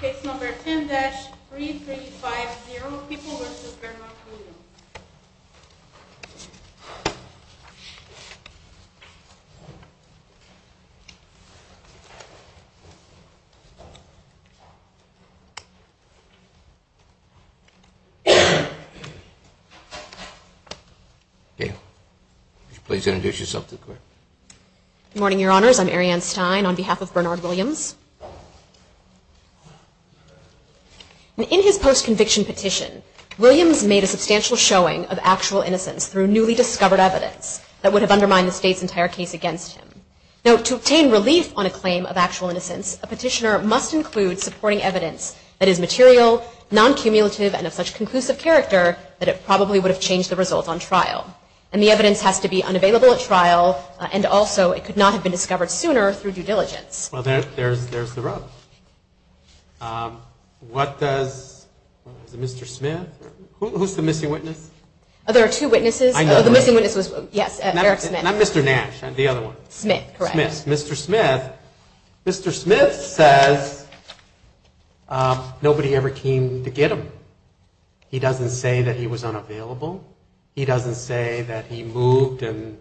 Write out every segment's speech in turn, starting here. Case number 10-3350, People v. Bernard Williams. Please introduce yourself to the court. Good morning, Your Honors. I'm Arianne Stein on behalf of Bernard Williams. In his post-conviction petition, Williams made a substantial showing of actual innocence through newly discovered evidence that would have undermined the state's entire case against him. Now, to obtain relief on a claim of actual innocence, a petitioner must include supporting evidence that is material, non-cumulative, and of such conclusive character that it probably would have changed the result on trial. And the evidence has to be unavailable at trial, and also it could not have been discovered sooner through due diligence. Well, there's the rub. What does Mr. Smith, who's the missing witness? There are two witnesses. The missing witness was, yes, Eric Smith. Not Mr. Nash, the other one. Smith, correct. Mr. Smith says nobody ever came to get him. He doesn't say that he was unavailable. He doesn't say that he moved and,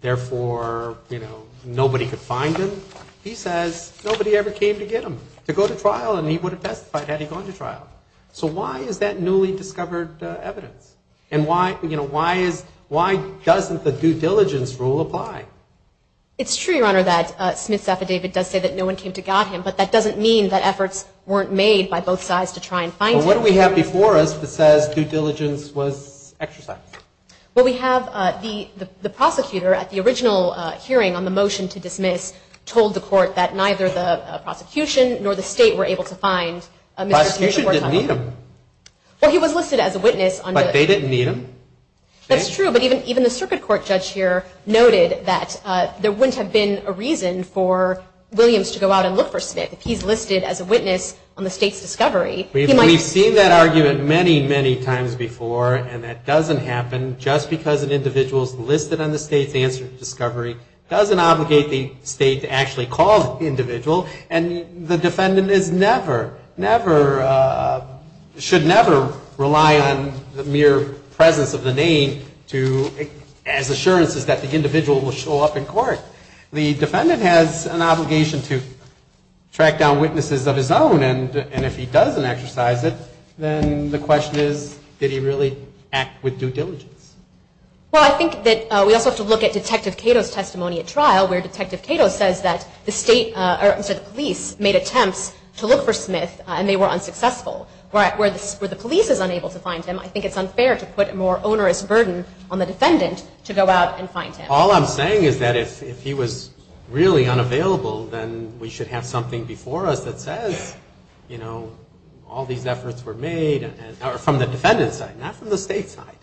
therefore, nobody could find him. He says nobody ever came to get him, to go to trial, and he would have testified had he gone to trial. So why is that newly discovered evidence? And why doesn't the due diligence rule apply? It's true, Your Honor, that Smith's affidavit does say that no one came to got him, but that doesn't mean that efforts weren't made by both sides to try and find him. Well, what do we have before us that says due diligence was exercised? Well, we have the prosecutor at the original hearing on the motion to dismiss told the court that neither the prosecution nor the state were able to find Mr. Smith. Prosecution didn't need him. Well, he was listed as a witness. But they didn't need him. That's true, but even the circuit court judge here noted that there wouldn't have been a reason for Williams to go out and look for Smith if he's listed as a witness on the state's discovery. We've seen that argument many, many times before, and that doesn't happen. Just because an individual is listed on the state's discovery doesn't obligate the state to actually call the individual. And the defendant is never, never, should never rely on the mere presence of the name of the individual. The defendant has an obligation to track down witnesses of his own, and if he doesn't exercise it, then the question is, did he really act with due diligence? Well, I think that we also have to look at Detective Cato's testimony at trial, where Detective Cato says that the police made attempts to look for Smith, and they were unsuccessful. Where the police is unable to find him, I think it's unfair to put a more onerous burden on the defendant to go out and find him. All I'm saying is that if he was really unavailable, then we should have something before us that says, you know, all these efforts were made from the defendant's side, not from the state's side.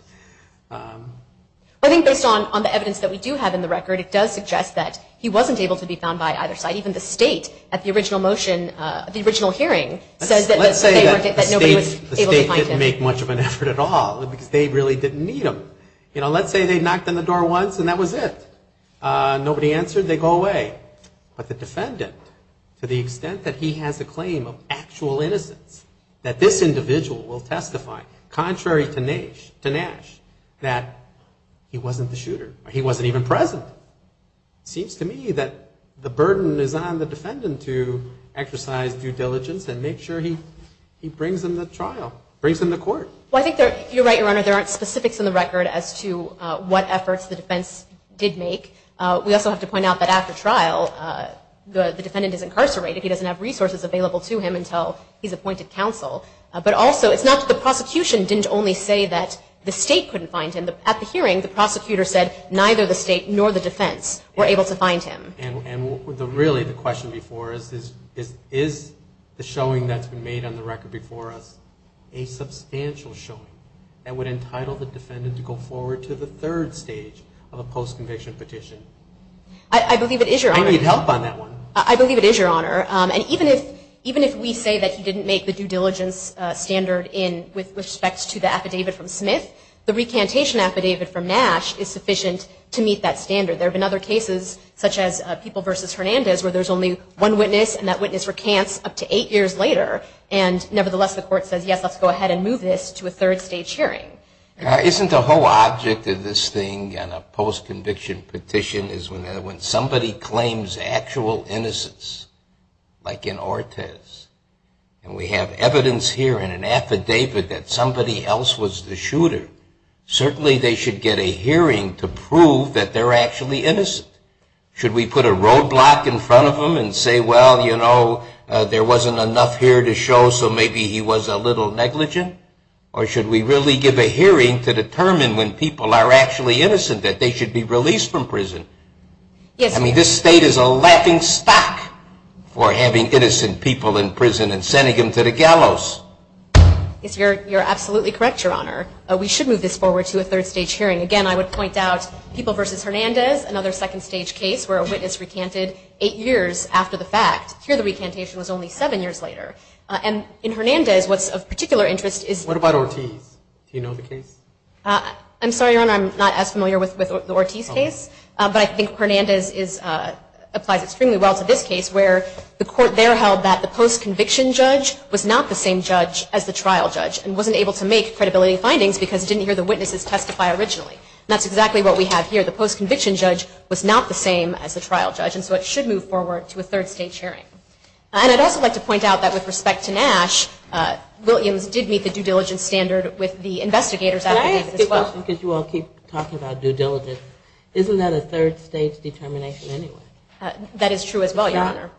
I think based on the evidence that we do have in the record, it does suggest that he wasn't able to be found by either side. Even the state, at the original motion, the original hearing, says that nobody was able to find him. Let's say that the state didn't make much of an effort at all, because they really didn't need him. You know, let's say they knocked on the door once, and that was it. Nobody answered, they go away. But the defendant, to the extent that he has a claim of actual innocence, that this individual will testify, contrary to Nash, that he wasn't the shooter, or he wasn't even present. It seems to me that the burden is on the defendant to exercise due diligence and make sure he brings him to trial, brings him to court. Well, I think you're right, Your Honor, there aren't specifics in the record as to what efforts the defense did make. We also have to point out that after trial, the defendant is incarcerated. He doesn't have resources available to him until he's appointed counsel. But also, it's not that the prosecution didn't only say that the state couldn't find him. At the hearing, the prosecutor said neither the state nor the defense were able to find him. And really, the question before us is, is the showing that's been made on the record before us a substantial showing that would entitle the defendant to go forward to the third stage of a post-conviction petition? I believe it is, Your Honor. And even if we say that he didn't make the due diligence standard with respect to the affidavit from Smith, the recantation affidavit from Nash is sufficient to meet that standard. There have been other cases, such as People v. Hernandez, where there's only one witness, and that witness recants up to eight years later. And nevertheless, the court says, yes, let's go ahead and move this to a third stage hearing. Isn't the whole object of this thing on a post-conviction petition is when somebody claims actual innocence, like in Ortez. And we have evidence here in an affidavit that somebody else was the shooter. Certainly, they should get a hearing to prove that they're actually innocent. Should we put a roadblock in front of them and say, well, you know, there wasn't enough here to show, so maybe he was a little negligent? Or should we really give a hearing to determine when people are actually innocent, that they should be released from prison? I mean, this state is a laughingstock for having innocent people in prison and sending them to the gallows. You're absolutely correct, Your Honor. We should move this forward to a third stage hearing. Again, I would point out People v. Hernandez, another second stage case where a witness recanted eight years after the fact. What about Ortiz? I'm sorry, Your Honor, I'm not as familiar with the Ortiz case, but I think Hernandez applies extremely well to this case, where the court there held that the post-conviction judge was not the same judge as the trial judge and wasn't able to make credibility findings because it didn't hear the witnesses testify originally. And that's exactly what we have here. The post-conviction judge was not the same as the trial judge, and so it should move forward to a third stage hearing. And I'd also like to point out that with respect to Nash, Williams did meet the due diligence standard with the investigators at the time as well. Can I ask a question? Because you all keep talking about due diligence. Isn't that a third stage determination anyway? That is true as well, Your Honor.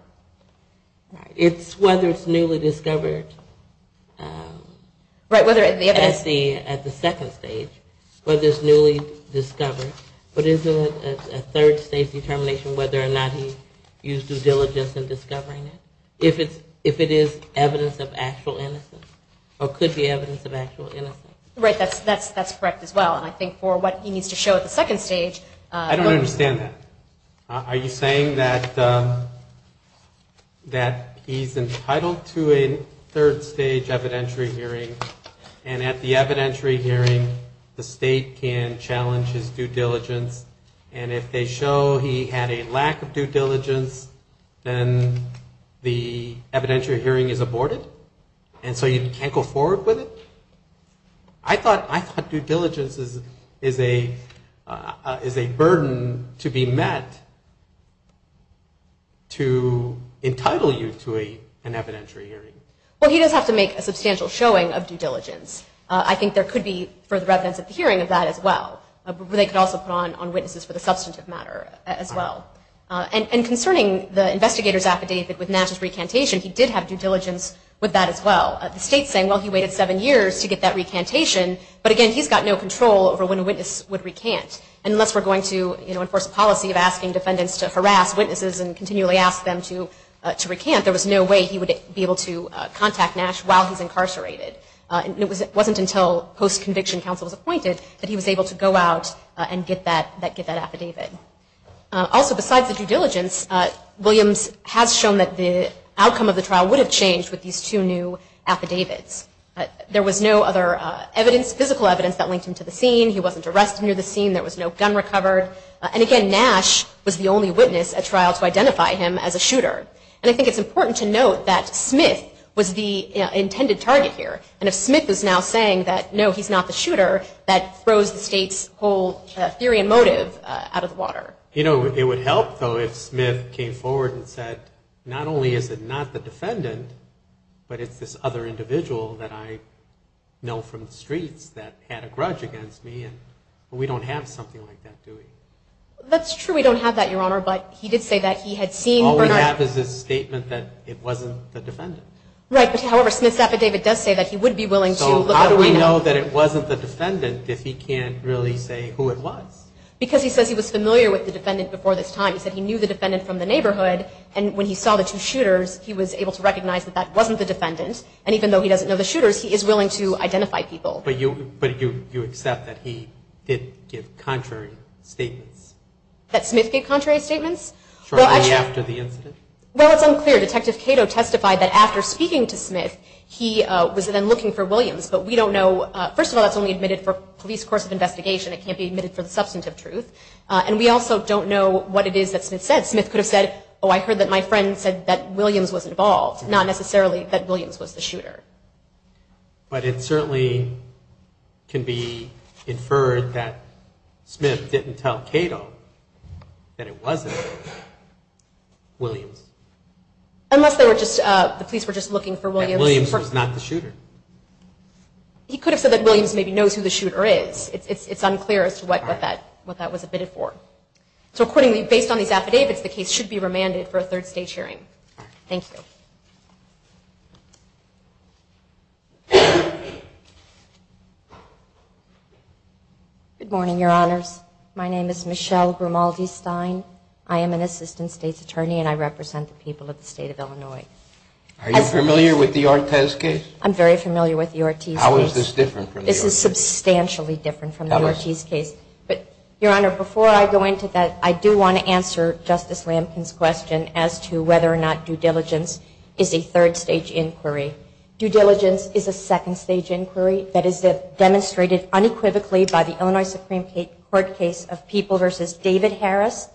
It's whether it's newly discovered. At the second stage, whether it's newly discovered. But isn't it a third stage determination whether or not he used due diligence in discovering it? If it is evidence of actual innocence or could be evidence of actual innocence. Right, that's correct as well. And I think for what he needs to show at the second stage... I don't understand that. Are you saying that he's entitled to a third stage evidentiary hearing and at the evidentiary hearing the state can challenge his due diligence and if they show he had a lack of due diligence, then the evidentiary hearing is aborted? And so you can't go forward with it? I thought due diligence is a burden to be met to entitle you to an evidentiary hearing. Well, he does have to make a substantial showing of due diligence. I think there could be further evidence at the hearing of that as well. They could also put on witnesses for the substantive matter as well. And concerning the investigator's affidavit with Nash's recantation, he did have due diligence with that as well. The state's saying, well, he waited seven years to get that recantation, but again, he's got no control over when a witness would recant. Unless we're going to enforce a policy of asking defendants to harass witnesses and continually ask them to recant, there was no way he would be able to contact Nash while he's incarcerated. It wasn't until post-conviction counsel was appointed that he was able to go out and get that affidavit. Also, besides the due diligence, Williams has shown that the outcome of the trial would have changed with these two new affidavits. There was no other physical evidence that linked him to the scene. He wasn't arrested near the scene. There was no gun recovered. And again, Nash was the only witness at trial to identify him as a shooter. And I think it's important to note that Smith was the intended target here. And if Smith is now saying that, no, he's not the shooter, that throws the state's whole theory and motive out of the water. You know, it would help, though, if Smith came forward and said, not only is it not the defendant, but it's this other individual that I know from the streets that had a grudge against me, and we don't have something like that, do we? That's true, we don't have that, Your Honor, but he did say that he had seen Bernard. All we have is his statement that it wasn't the defendant. Right, but however, Smith's affidavit does say that he would be willing to look at Bernard. So how do we know that it wasn't the defendant if he can't really say who it was? Because he says he was familiar with the defendant before this time. He said he knew the defendant from the neighborhood, and when he saw the two shooters, he was able to recognize that that wasn't the defendant, and even though he doesn't know the shooters, he is willing to identify people. But you accept that he did give contrary statements? Well, it's unclear. Detective Cato testified that after speaking to Smith, he was then looking for Williams, but we don't know. First of all, that's only admitted for police course of investigation. It can't be admitted for the substantive truth, and we also don't know what it is that Smith said. Smith could have said, oh, I heard that my friend said that Williams was involved, unless the police were just looking for Williams. He could have said that Williams maybe knows who the shooter is. It's unclear as to what that was admitted for. So based on these affidavits, the case should be remanded for a third stage hearing. Thank you. Good morning, Your Honors. My name is Michelle Grimaldi-Stein. I am an assistant state's attorney, and I represent the people of the state of Illinois. Are you familiar with the Ortiz case? I'm very familiar with the Ortiz case. Due diligence is a second stage inquiry that is demonstrated unequivocally by the Illinois Supreme Court case of People v. David Harris.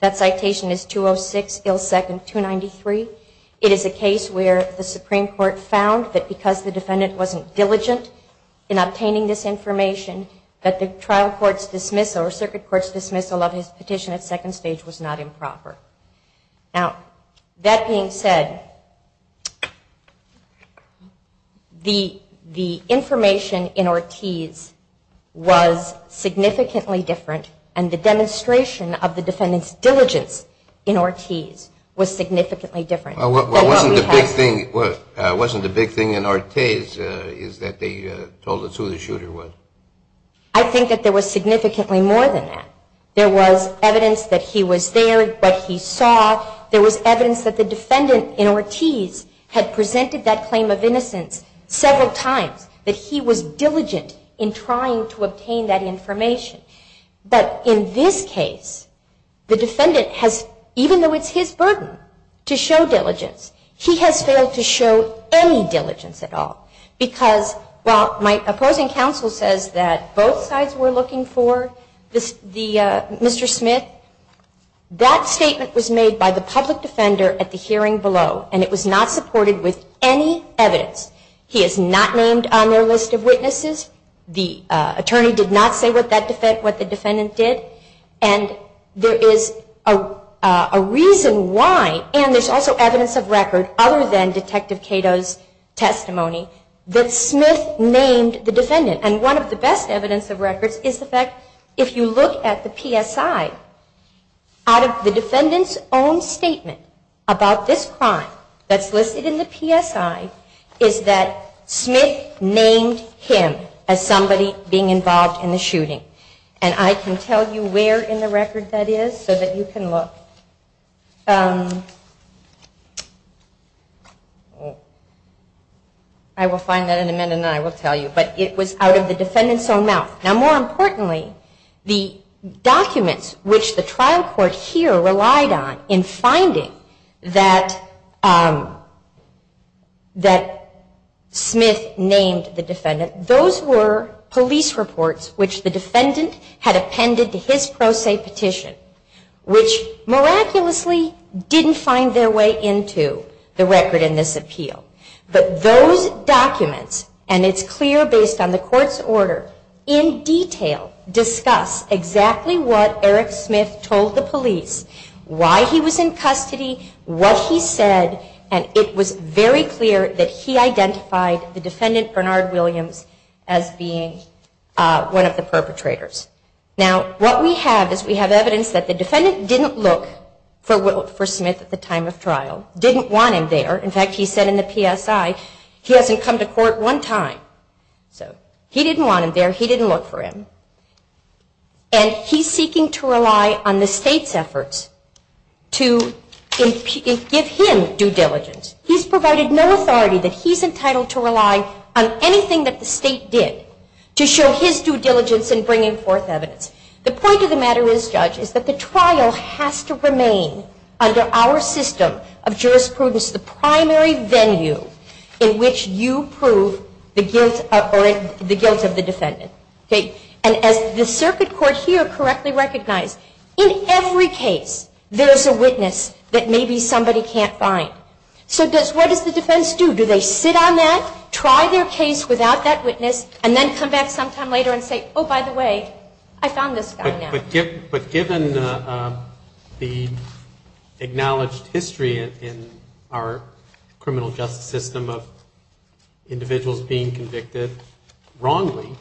That citation is 206-293. It is a case where the Supreme Court found that because the defendant wasn't diligent in obtaining this information, that the trial court's dismissal or circuit court's dismissal of his petition at second stage was not improper. Now, that being said, the information in Ortiz was significantly different, and the demonstration of the defendant's diligence in Ortiz was significantly different. Wasn't the big thing in Ortiz that they told us who the shooter was? I think that there was significantly more than that. There was evidence that he was there, what he saw. There was evidence that the defendant in Ortiz had presented that claim of innocence several times, that he was diligent in trying to obtain that information. But in this case, the defendant has, even though it's his burden to show diligence, he has failed to show any diligence at all. Because while my opposing counsel says that both sides were looking for Mr. Smith, that statement was made by the public defender at the hearing below, and it was not supported with any evidence. He is not named on their list of witnesses. The attorney did not say what the defendant did. And there is a reason why, and there's also evidence of record other than Detective Cato's testimony, that Smith named the defendant. And one of the best evidence of records is the fact, if you look at the PSI, out of the defendant's own statement about this crime that's listed in the PSI, is that Smith named him as somebody being involved in the shooting. And I can tell you where in the record that is so that you can look. I will find that in a minute and then I will tell you. But it was out of the defendant's own mouth. Now, more importantly, the documents which the trial court here relied on in finding that Smith named the defendant, those were police reports which the defendant had appended to his pro se petition, which miraculously didn't find their way into the record in this appeal. But those documents, and it's clear based on the court's order, in detail discuss exactly what Eric Smith told the police, why he was in custody, what he said, and it was very clear that he identified the defendant, Bernard Williams, as being one of the perpetrators. Now, what we have is we have evidence that the defendant didn't look for Smith at the time of trial, didn't want him there. In fact, he said in the PSI, he hasn't come to court one time. So he didn't want him there. He didn't look for him. And he's seeking to rely on the state's efforts to give him due diligence. He's provided no authority that he's entitled to rely on anything that the state did to show his due diligence in bringing forth evidence. The point of the matter is, Judge, is that the trial has to remain under our system of jurisprudence the primary venue in which you prove the guilt of the defendant. And as the circuit court here correctly recognized, in every case there is a witness that maybe somebody can't find. So what does the defense do? Do they sit on that, try their case without that witness, and then come back sometime later and say, oh, by the way, I found this guy now? But given the acknowledged history in our criminal justice system of individuals being convicted wrongly,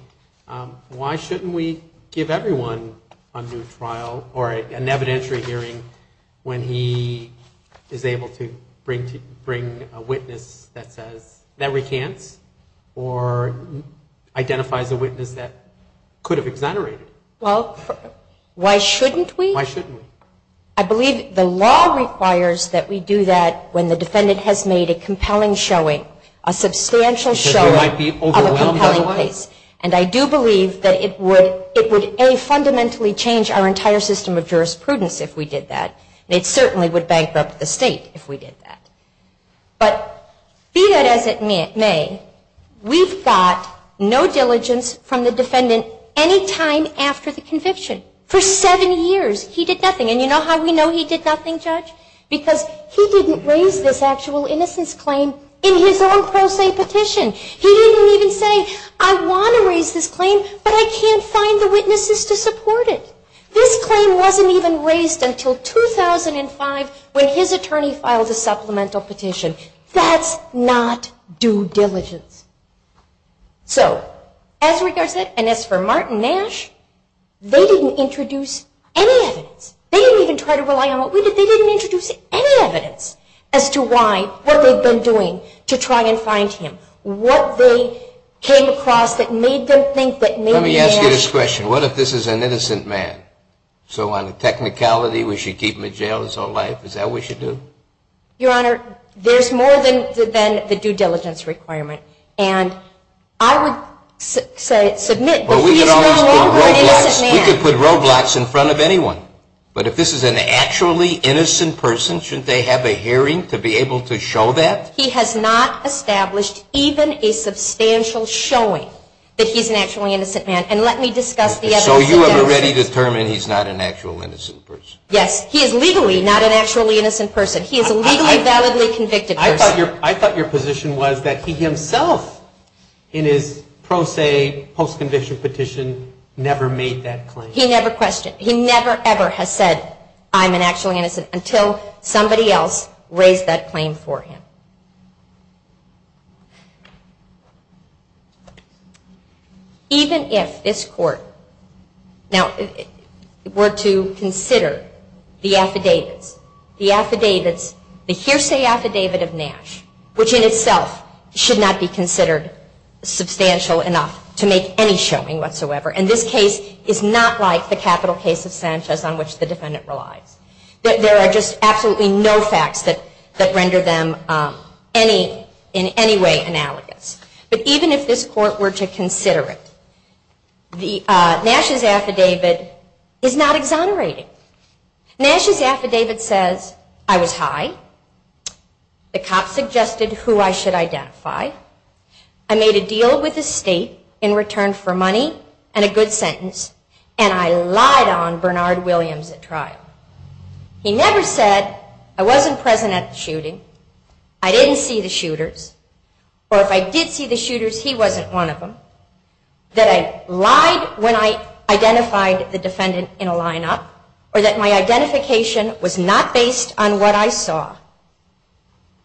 why shouldn't we give everyone a new trial or an evidentiary hearing when he is able to bring a witness that recants or identifies a witness that could have exonerated? Why shouldn't we? I believe the law requires that we do that when the defendant has made a compelling showing, a substantial showing of a compelling case. And I do believe that it would, A, fundamentally change our entire system of jurisprudence if we did that, and it certainly would bankrupt the state if we did that. But be that as it may, we've got no diligence from the defendant any time after the conviction. For seven years he did nothing. And you know how we know he did nothing, Judge? Because he didn't raise this actual innocence claim in his own pro se petition. He didn't even say, I want to raise this claim, but I can't find the witnesses to support it. This claim wasn't even raised until 2005 when his attorney filed a supplemental petition. That's not due diligence. So as regards that, and as for Martin Nash, they didn't introduce any evidence. They didn't even try to rely on what we did. They didn't introduce any evidence as to why, what they've been doing to try and find him, what they came across that made them think that maybe Nash... Let me ask you this question. What if this is an innocent man? So on the technicality, we should keep him in jail his whole life? Is that what we should do? Your Honor, there's more than the due diligence requirement. And I would say, submit... We could put roadblocks in front of anyone. But if this is an actually innocent person, shouldn't they have a hearing to be able to show that? He has not established even a substantial showing that he's an actually innocent man. And let me discuss the other suggestions. So you're ready to determine he's not an actually innocent person? Yes. He is legally not an actually innocent person. He is a legally validly convicted person. I thought your position was that he himself, in his pro se post conviction petition, never made that claim. He never questioned. He never ever has said, I'm an actually innocent, until somebody else raised that claim for him. Even if this court were to consider the affidavits, the hearsay affidavit of Nash, which in itself should not be considered substantial enough to make any showing whatsoever. And this case is not like the capital case of Sanchez on which the defendant relies. There are just absolutely no facts that render them in any way analogous. But even if this court were to consider it, Nash's affidavit is not exonerating. Nash's affidavit says, I was high, the cops suggested who I should identify, I made a deal with the state in return for money and a good sentence, and I lied on Bernard Williams at trial. He never said, I wasn't present at the shooting, I didn't see the shooters, or if I did see the shooters, he wasn't one of them. That I lied when I identified the defendant in a lineup, or that my identification was not based on what I saw.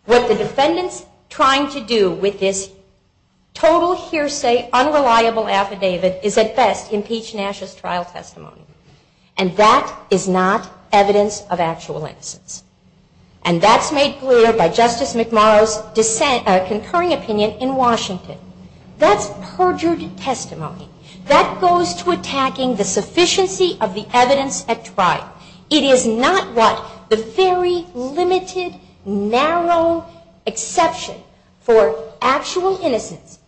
What the defendant's trying to do with this total hearsay, unreliable affidavit is at best impeach Nash's trial testimony. And that is not evidence of actual innocence. And that's made clear by Justice McMorrow's concurring opinion in Washington. That's perjured testimony. That goes to attacking the sufficiency of the evidence at trial. It is not what the very limited, narrow exception for actual innocence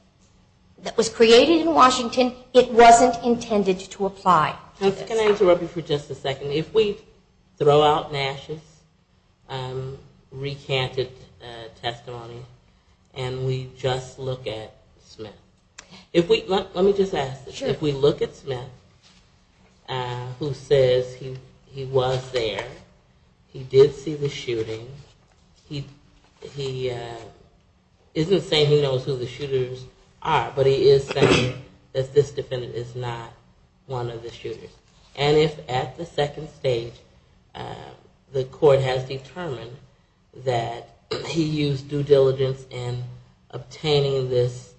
that was created in Washington, it wasn't intended to apply. Can I interrupt you for just a second? If we throw out Nash's recanted testimony, and we just look at Smith. Let me just ask this. If we look at Smith, who says he was there, he did see the shooting, he isn't saying he knows who the shooters are, but he is saying that this defendant is not one of the shooters. And if at the second stage the court has determined that he used due diligence in obtaining this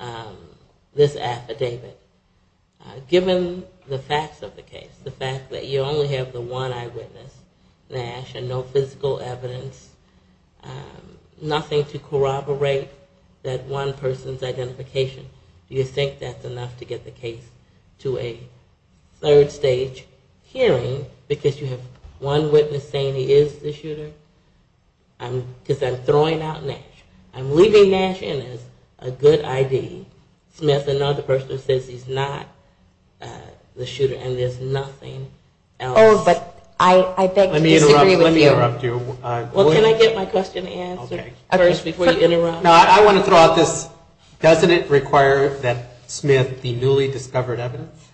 affidavit, given the facts of the case, the fact that you only have the one eyewitness, Nash, and no physical evidence, nothing to corroborate that one person's identification, do you think that's enough to get the case to a third stage hearing because you have one witness saying he is the shooter? Because I'm believing Nash is a good I.D., Smith another person says he's not the shooter, and there's nothing else. Let me interrupt you. Can I get my question answered first before you interrupt? I want to throw out this, doesn't it require that Smith be newly discovered evidence?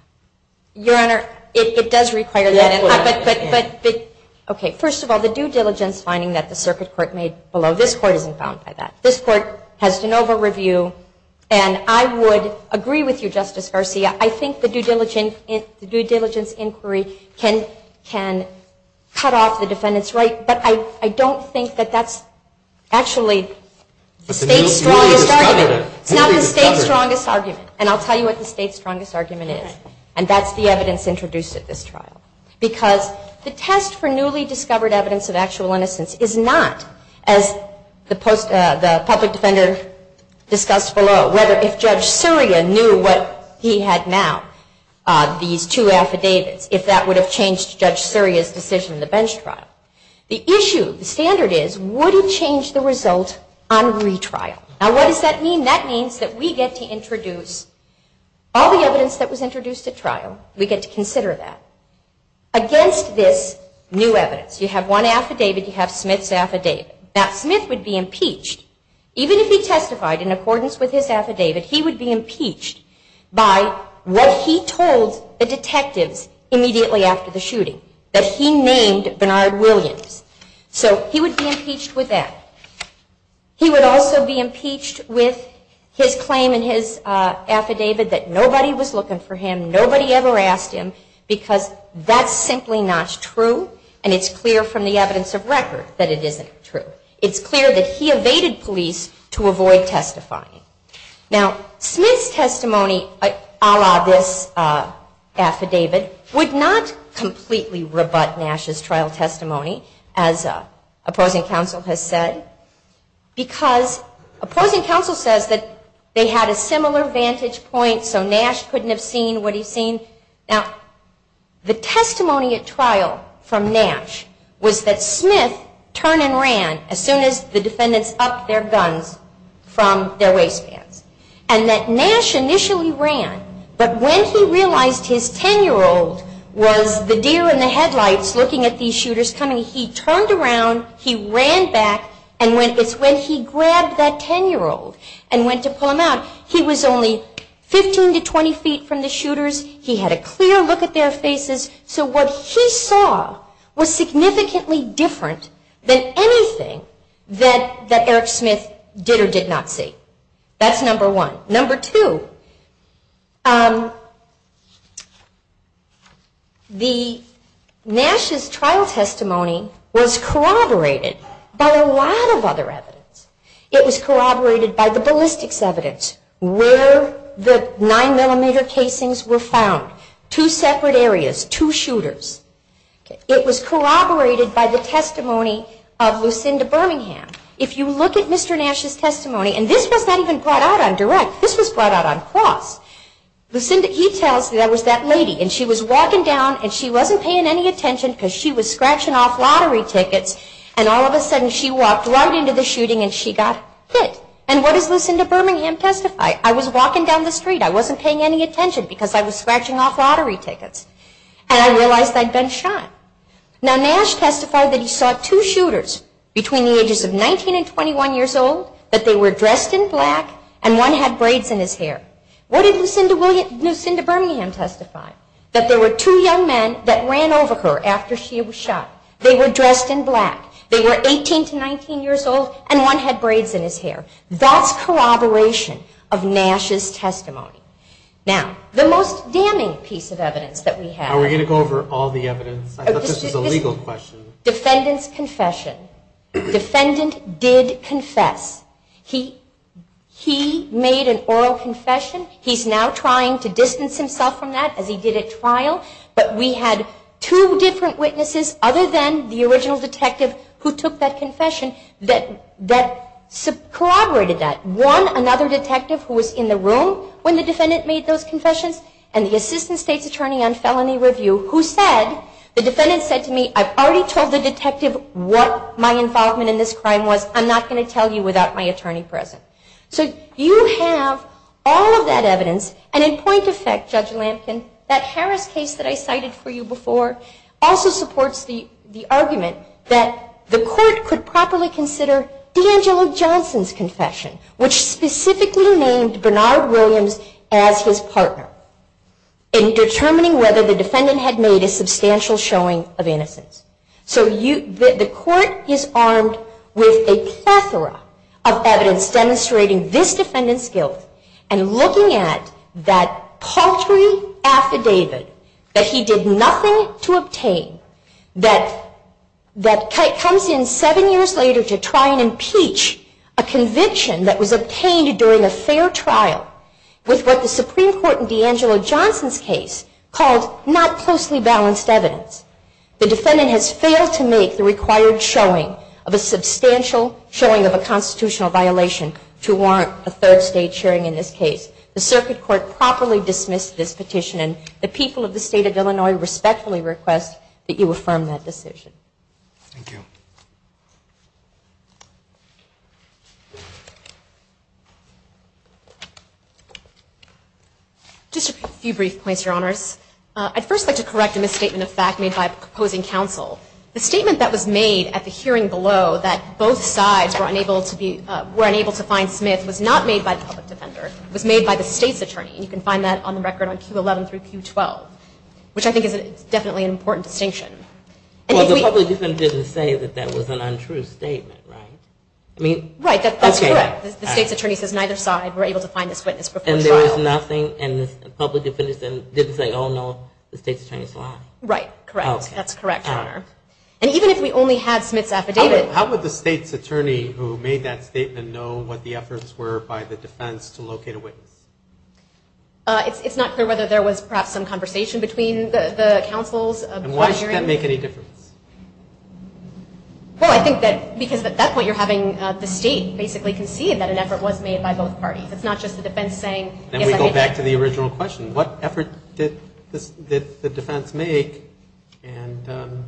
Your Honor, it does require that. Okay. First of all, the due diligence finding that the circuit court made below, this court isn't bound by that. This court has de novo review, and I would agree with you, Justice Garcia, I think the due diligence inquiry can cut off the defendant's right, but I don't think that that's actually the State's strongest argument. It's not the State's strongest argument. And I'll tell you what the State's strongest argument is, and that's the evidence introduced at this trial. Because the test for newly discovered evidence of actual innocence is not, as the public defender discussed below, whether if Judge Surya knew what he had now, these two affidavits, if that would have changed Judge Surya's decision in the bench trial. The issue, the standard is, would he change the result on retrial. Now what does that mean? That means that we get to introduce all the evidence that was introduced at trial, we get to consider that, against this new evidence. You have one affidavit, you have Smith's affidavit. Now Smith would be impeached, even if he testified in accordance with his affidavit, he would be impeached by what he told the detectives immediately after the shooting, that he named Bernard Williams. So he would be impeached with that. He would also be impeached with his claim in his affidavit that nobody was looking for him, nobody ever asked him, because that's simply not true, and it's clear from the evidence of record that it isn't true. It's clear that he evaded police to avoid testifying. Now Smith's testimony a la this affidavit would not completely rebut Nash's trial testimony, as opposing counsel has said, because opposing counsel says that they had a similar vantage point so Nash couldn't have seen what he's seen. Now the testimony at trial from Nash was that Smith turned and ran as soon as the defendants upped their guns from their waistbands, and that Nash initially ran, but when he realized his 10-year-old was the deer in the headlights looking at these shooters coming, he turned around, he ran back, and it's when he grabbed that 10-year-old and went to pull him out, he was only 15 to 20 feet from the shooters, he had a clear look at their faces, so what he saw was significantly different than anything that Eric Smith did or did not see. That's number one. Number two, Nash's trial testimony was corroborated by a lot of other evidence. It was corroborated by the ballistics evidence, where the 9mm casings were found, two separate areas, two shooters. It was corroborated by the testimony of Lucinda Birmingham. If you look at Mr. Nash's testimony, and this was not even brought out on direct, this was brought out on cross, he tells that it was that lady, and she was walking down and she wasn't paying any attention because she was scratching off lottery tickets, and all of a sudden she popped right into the shooting and she got hit. And what does Lucinda Birmingham testify? I was walking down the street, I wasn't paying any attention because I was scratching off lottery tickets, and I realized I'd been shot. Now Nash testified that he saw two shooters between the ages of 19 and 21 years old, that they were dressed in black, and one had braids in his hair. What did Lucinda Birmingham testify? That there were two young men that ran over her after she was shot. They were dressed in black. They were 18 to 19 years old, and one had braids in his hair. That's corroboration of Nash's testimony. Now, the most damning piece of evidence that we have. Are we going to go over all the evidence? I thought this was a legal question. Defendant's confession. Defendant did confess. He made an oral confession. He's now trying to distance himself from that as he did at trial, but we had two different witnesses other than the original detective who took that confession that corroborated that. One, another detective who was in the room when the defendant made those confessions, and the assistant state's attorney on felony review who said, the defendant said to me, I've already told the detective what my involvement in this All of that evidence, and in point of fact, Judge Lampkin, that Harris case that I cited for you before also supports the argument that the court could properly consider D'Angelo Johnson's confession, which specifically named Bernard Williams as his partner in determining whether the defendant had made a substantial showing of innocence. So the court is armed with a plethora of evidence demonstrating this defendant's guilt and looking at that paltry affidavit that he did nothing to obtain, that comes in seven years later to try and impeach a conviction that was obtained during a fair trial with what the Supreme Court in D'Angelo Johnson's case called not closely balanced evidence. The defendant has failed to make the required showing of a substantial showing of a constitutional violation to warrant a third state hearing in this case. The circuit court properly dismissed this petition, and the people of the state of Illinois respectfully request that you affirm that decision. Thank you. Just a few brief points, Your Honors. I'd first like to correct a misstatement of fact made by a proposing counsel. The statement that was made at the hearing below that both sides were unable to find Smith was not made by the public defender. It was made by the state's attorney, and you can find that on the record on Q11 through Q12, which I think is definitely an important distinction. Well, the public defender didn't say that that was an untrue statement, right? Right, that's correct. The state's attorney says neither side were able to find this witness before trial. And there was nothing, and the public defender didn't say, oh no, the state's attorney's lying? Right, correct. That's correct, Your Honor. And even if we only had Smith's affidavit... How would the state's attorney who made that statement know what the efforts were by the defense to locate a witness? It's not clear whether there was perhaps some conversation between the counsels. And why should that make any difference? Well, I think that because at that point you're having the state basically concede that an effort was made by both parties. It's not just the defense saying... Then we go back to the original question. What effort did the defense make, and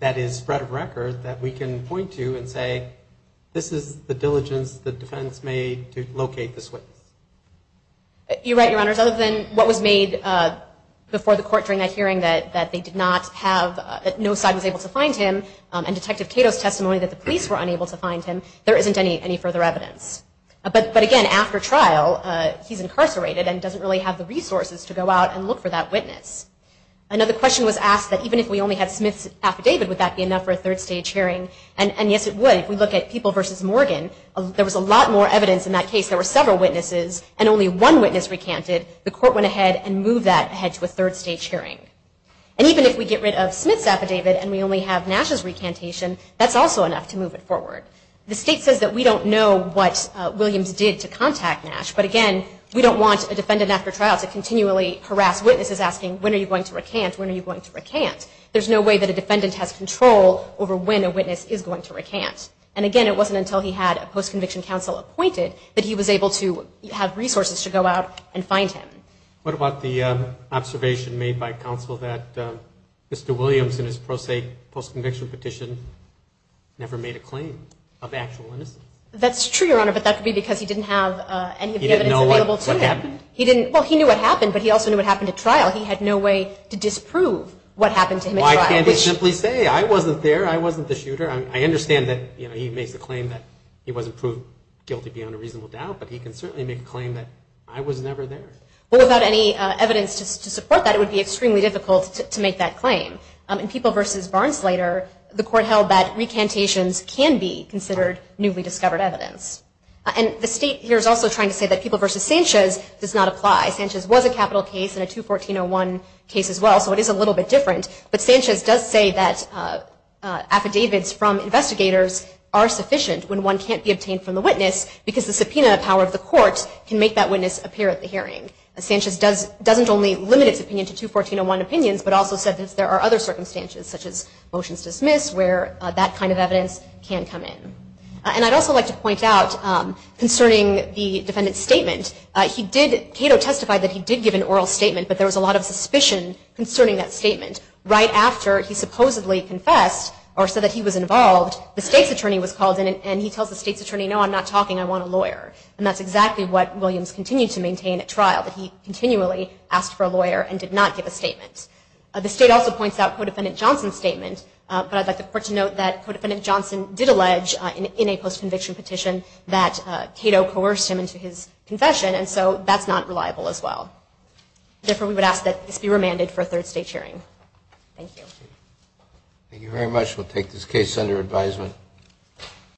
that is spread of record, that we can point to and say, this is the diligence the defense made to locate this witness? You're right, Your Honors. Other than what was made before the court during that hearing that they did not have, that no side was able to find him, and Detective Cato's testimony that the police were unable to find him, there isn't any further evidence. But again, after trial, he's incarcerated and doesn't really have the resources to go out and look for that witness. Another question was asked that even if we only had Smith's affidavit, would that be enough for a third-stage hearing? And yes, it would. If we look at People v. Morgan, there was a lot more evidence in that case. There were several witnesses, and only one witness recanted. The court went ahead and moved that ahead to a third-stage hearing. And even if we get rid of Smith's affidavit and we only have Nash's recantation, that's also enough to move it forward. The state says that we don't know what Williams did to contact Nash, but again, we don't want a defendant after trial to continually harass witnesses asking, when are you going to recant? When are you going to recant? There's no way that a defendant has control over when a witness is going to recant. And again, it wasn't until he had a post-conviction counsel appointed that he was able to have resources to go out and find him. What about the observation made by counsel that Mr. Williams, in his pro se post-conviction petition, never made a claim of actual innocence? That's true, Your Honor, but that could be because he didn't have any of the evidence available to him. He didn't know what happened? He makes the claim that he wasn't proved guilty beyond a reasonable doubt, but he can certainly make a claim that I was never there. Without any evidence to support that, it would be extremely difficult to make that claim. In People v. Barnes later, the court held that recantations can be considered newly discovered evidence. And the state here is also trying to say that People v. Sanchez does not apply. Sanchez was a capital case in a 214-01 case as well, so it is a little bit different. But Sanchez does say that affidavits from investigators are sufficient when one can't be obtained from the witness because the subpoena power of the court can make that witness appear at the hearing. Sanchez doesn't only limit his opinion to 214-01 opinions, but also said that there are other circumstances, such as motions to dismiss, where that kind of evidence can come in. And I'd also like to point out concerning the defendant's statement, Cato testified that he did give an oral statement, but there was a lot of suspicion concerning that statement. Right after he supposedly confessed or said that he was involved, the state's attorney was called in and he tells the state's attorney, no, I'm not talking, I want a lawyer. And that's exactly what Williams continued to maintain at trial, that he continually asked for a lawyer and did not give a statement. The state also points out Co-defendant Johnson's statement, but I'd like the court to note that Co-defendant Johnson did allege in a post-conviction petition that Cato coerced him into his confession, and so that's not reliable as well. Therefore, we would ask that this be remanded for a third state hearing.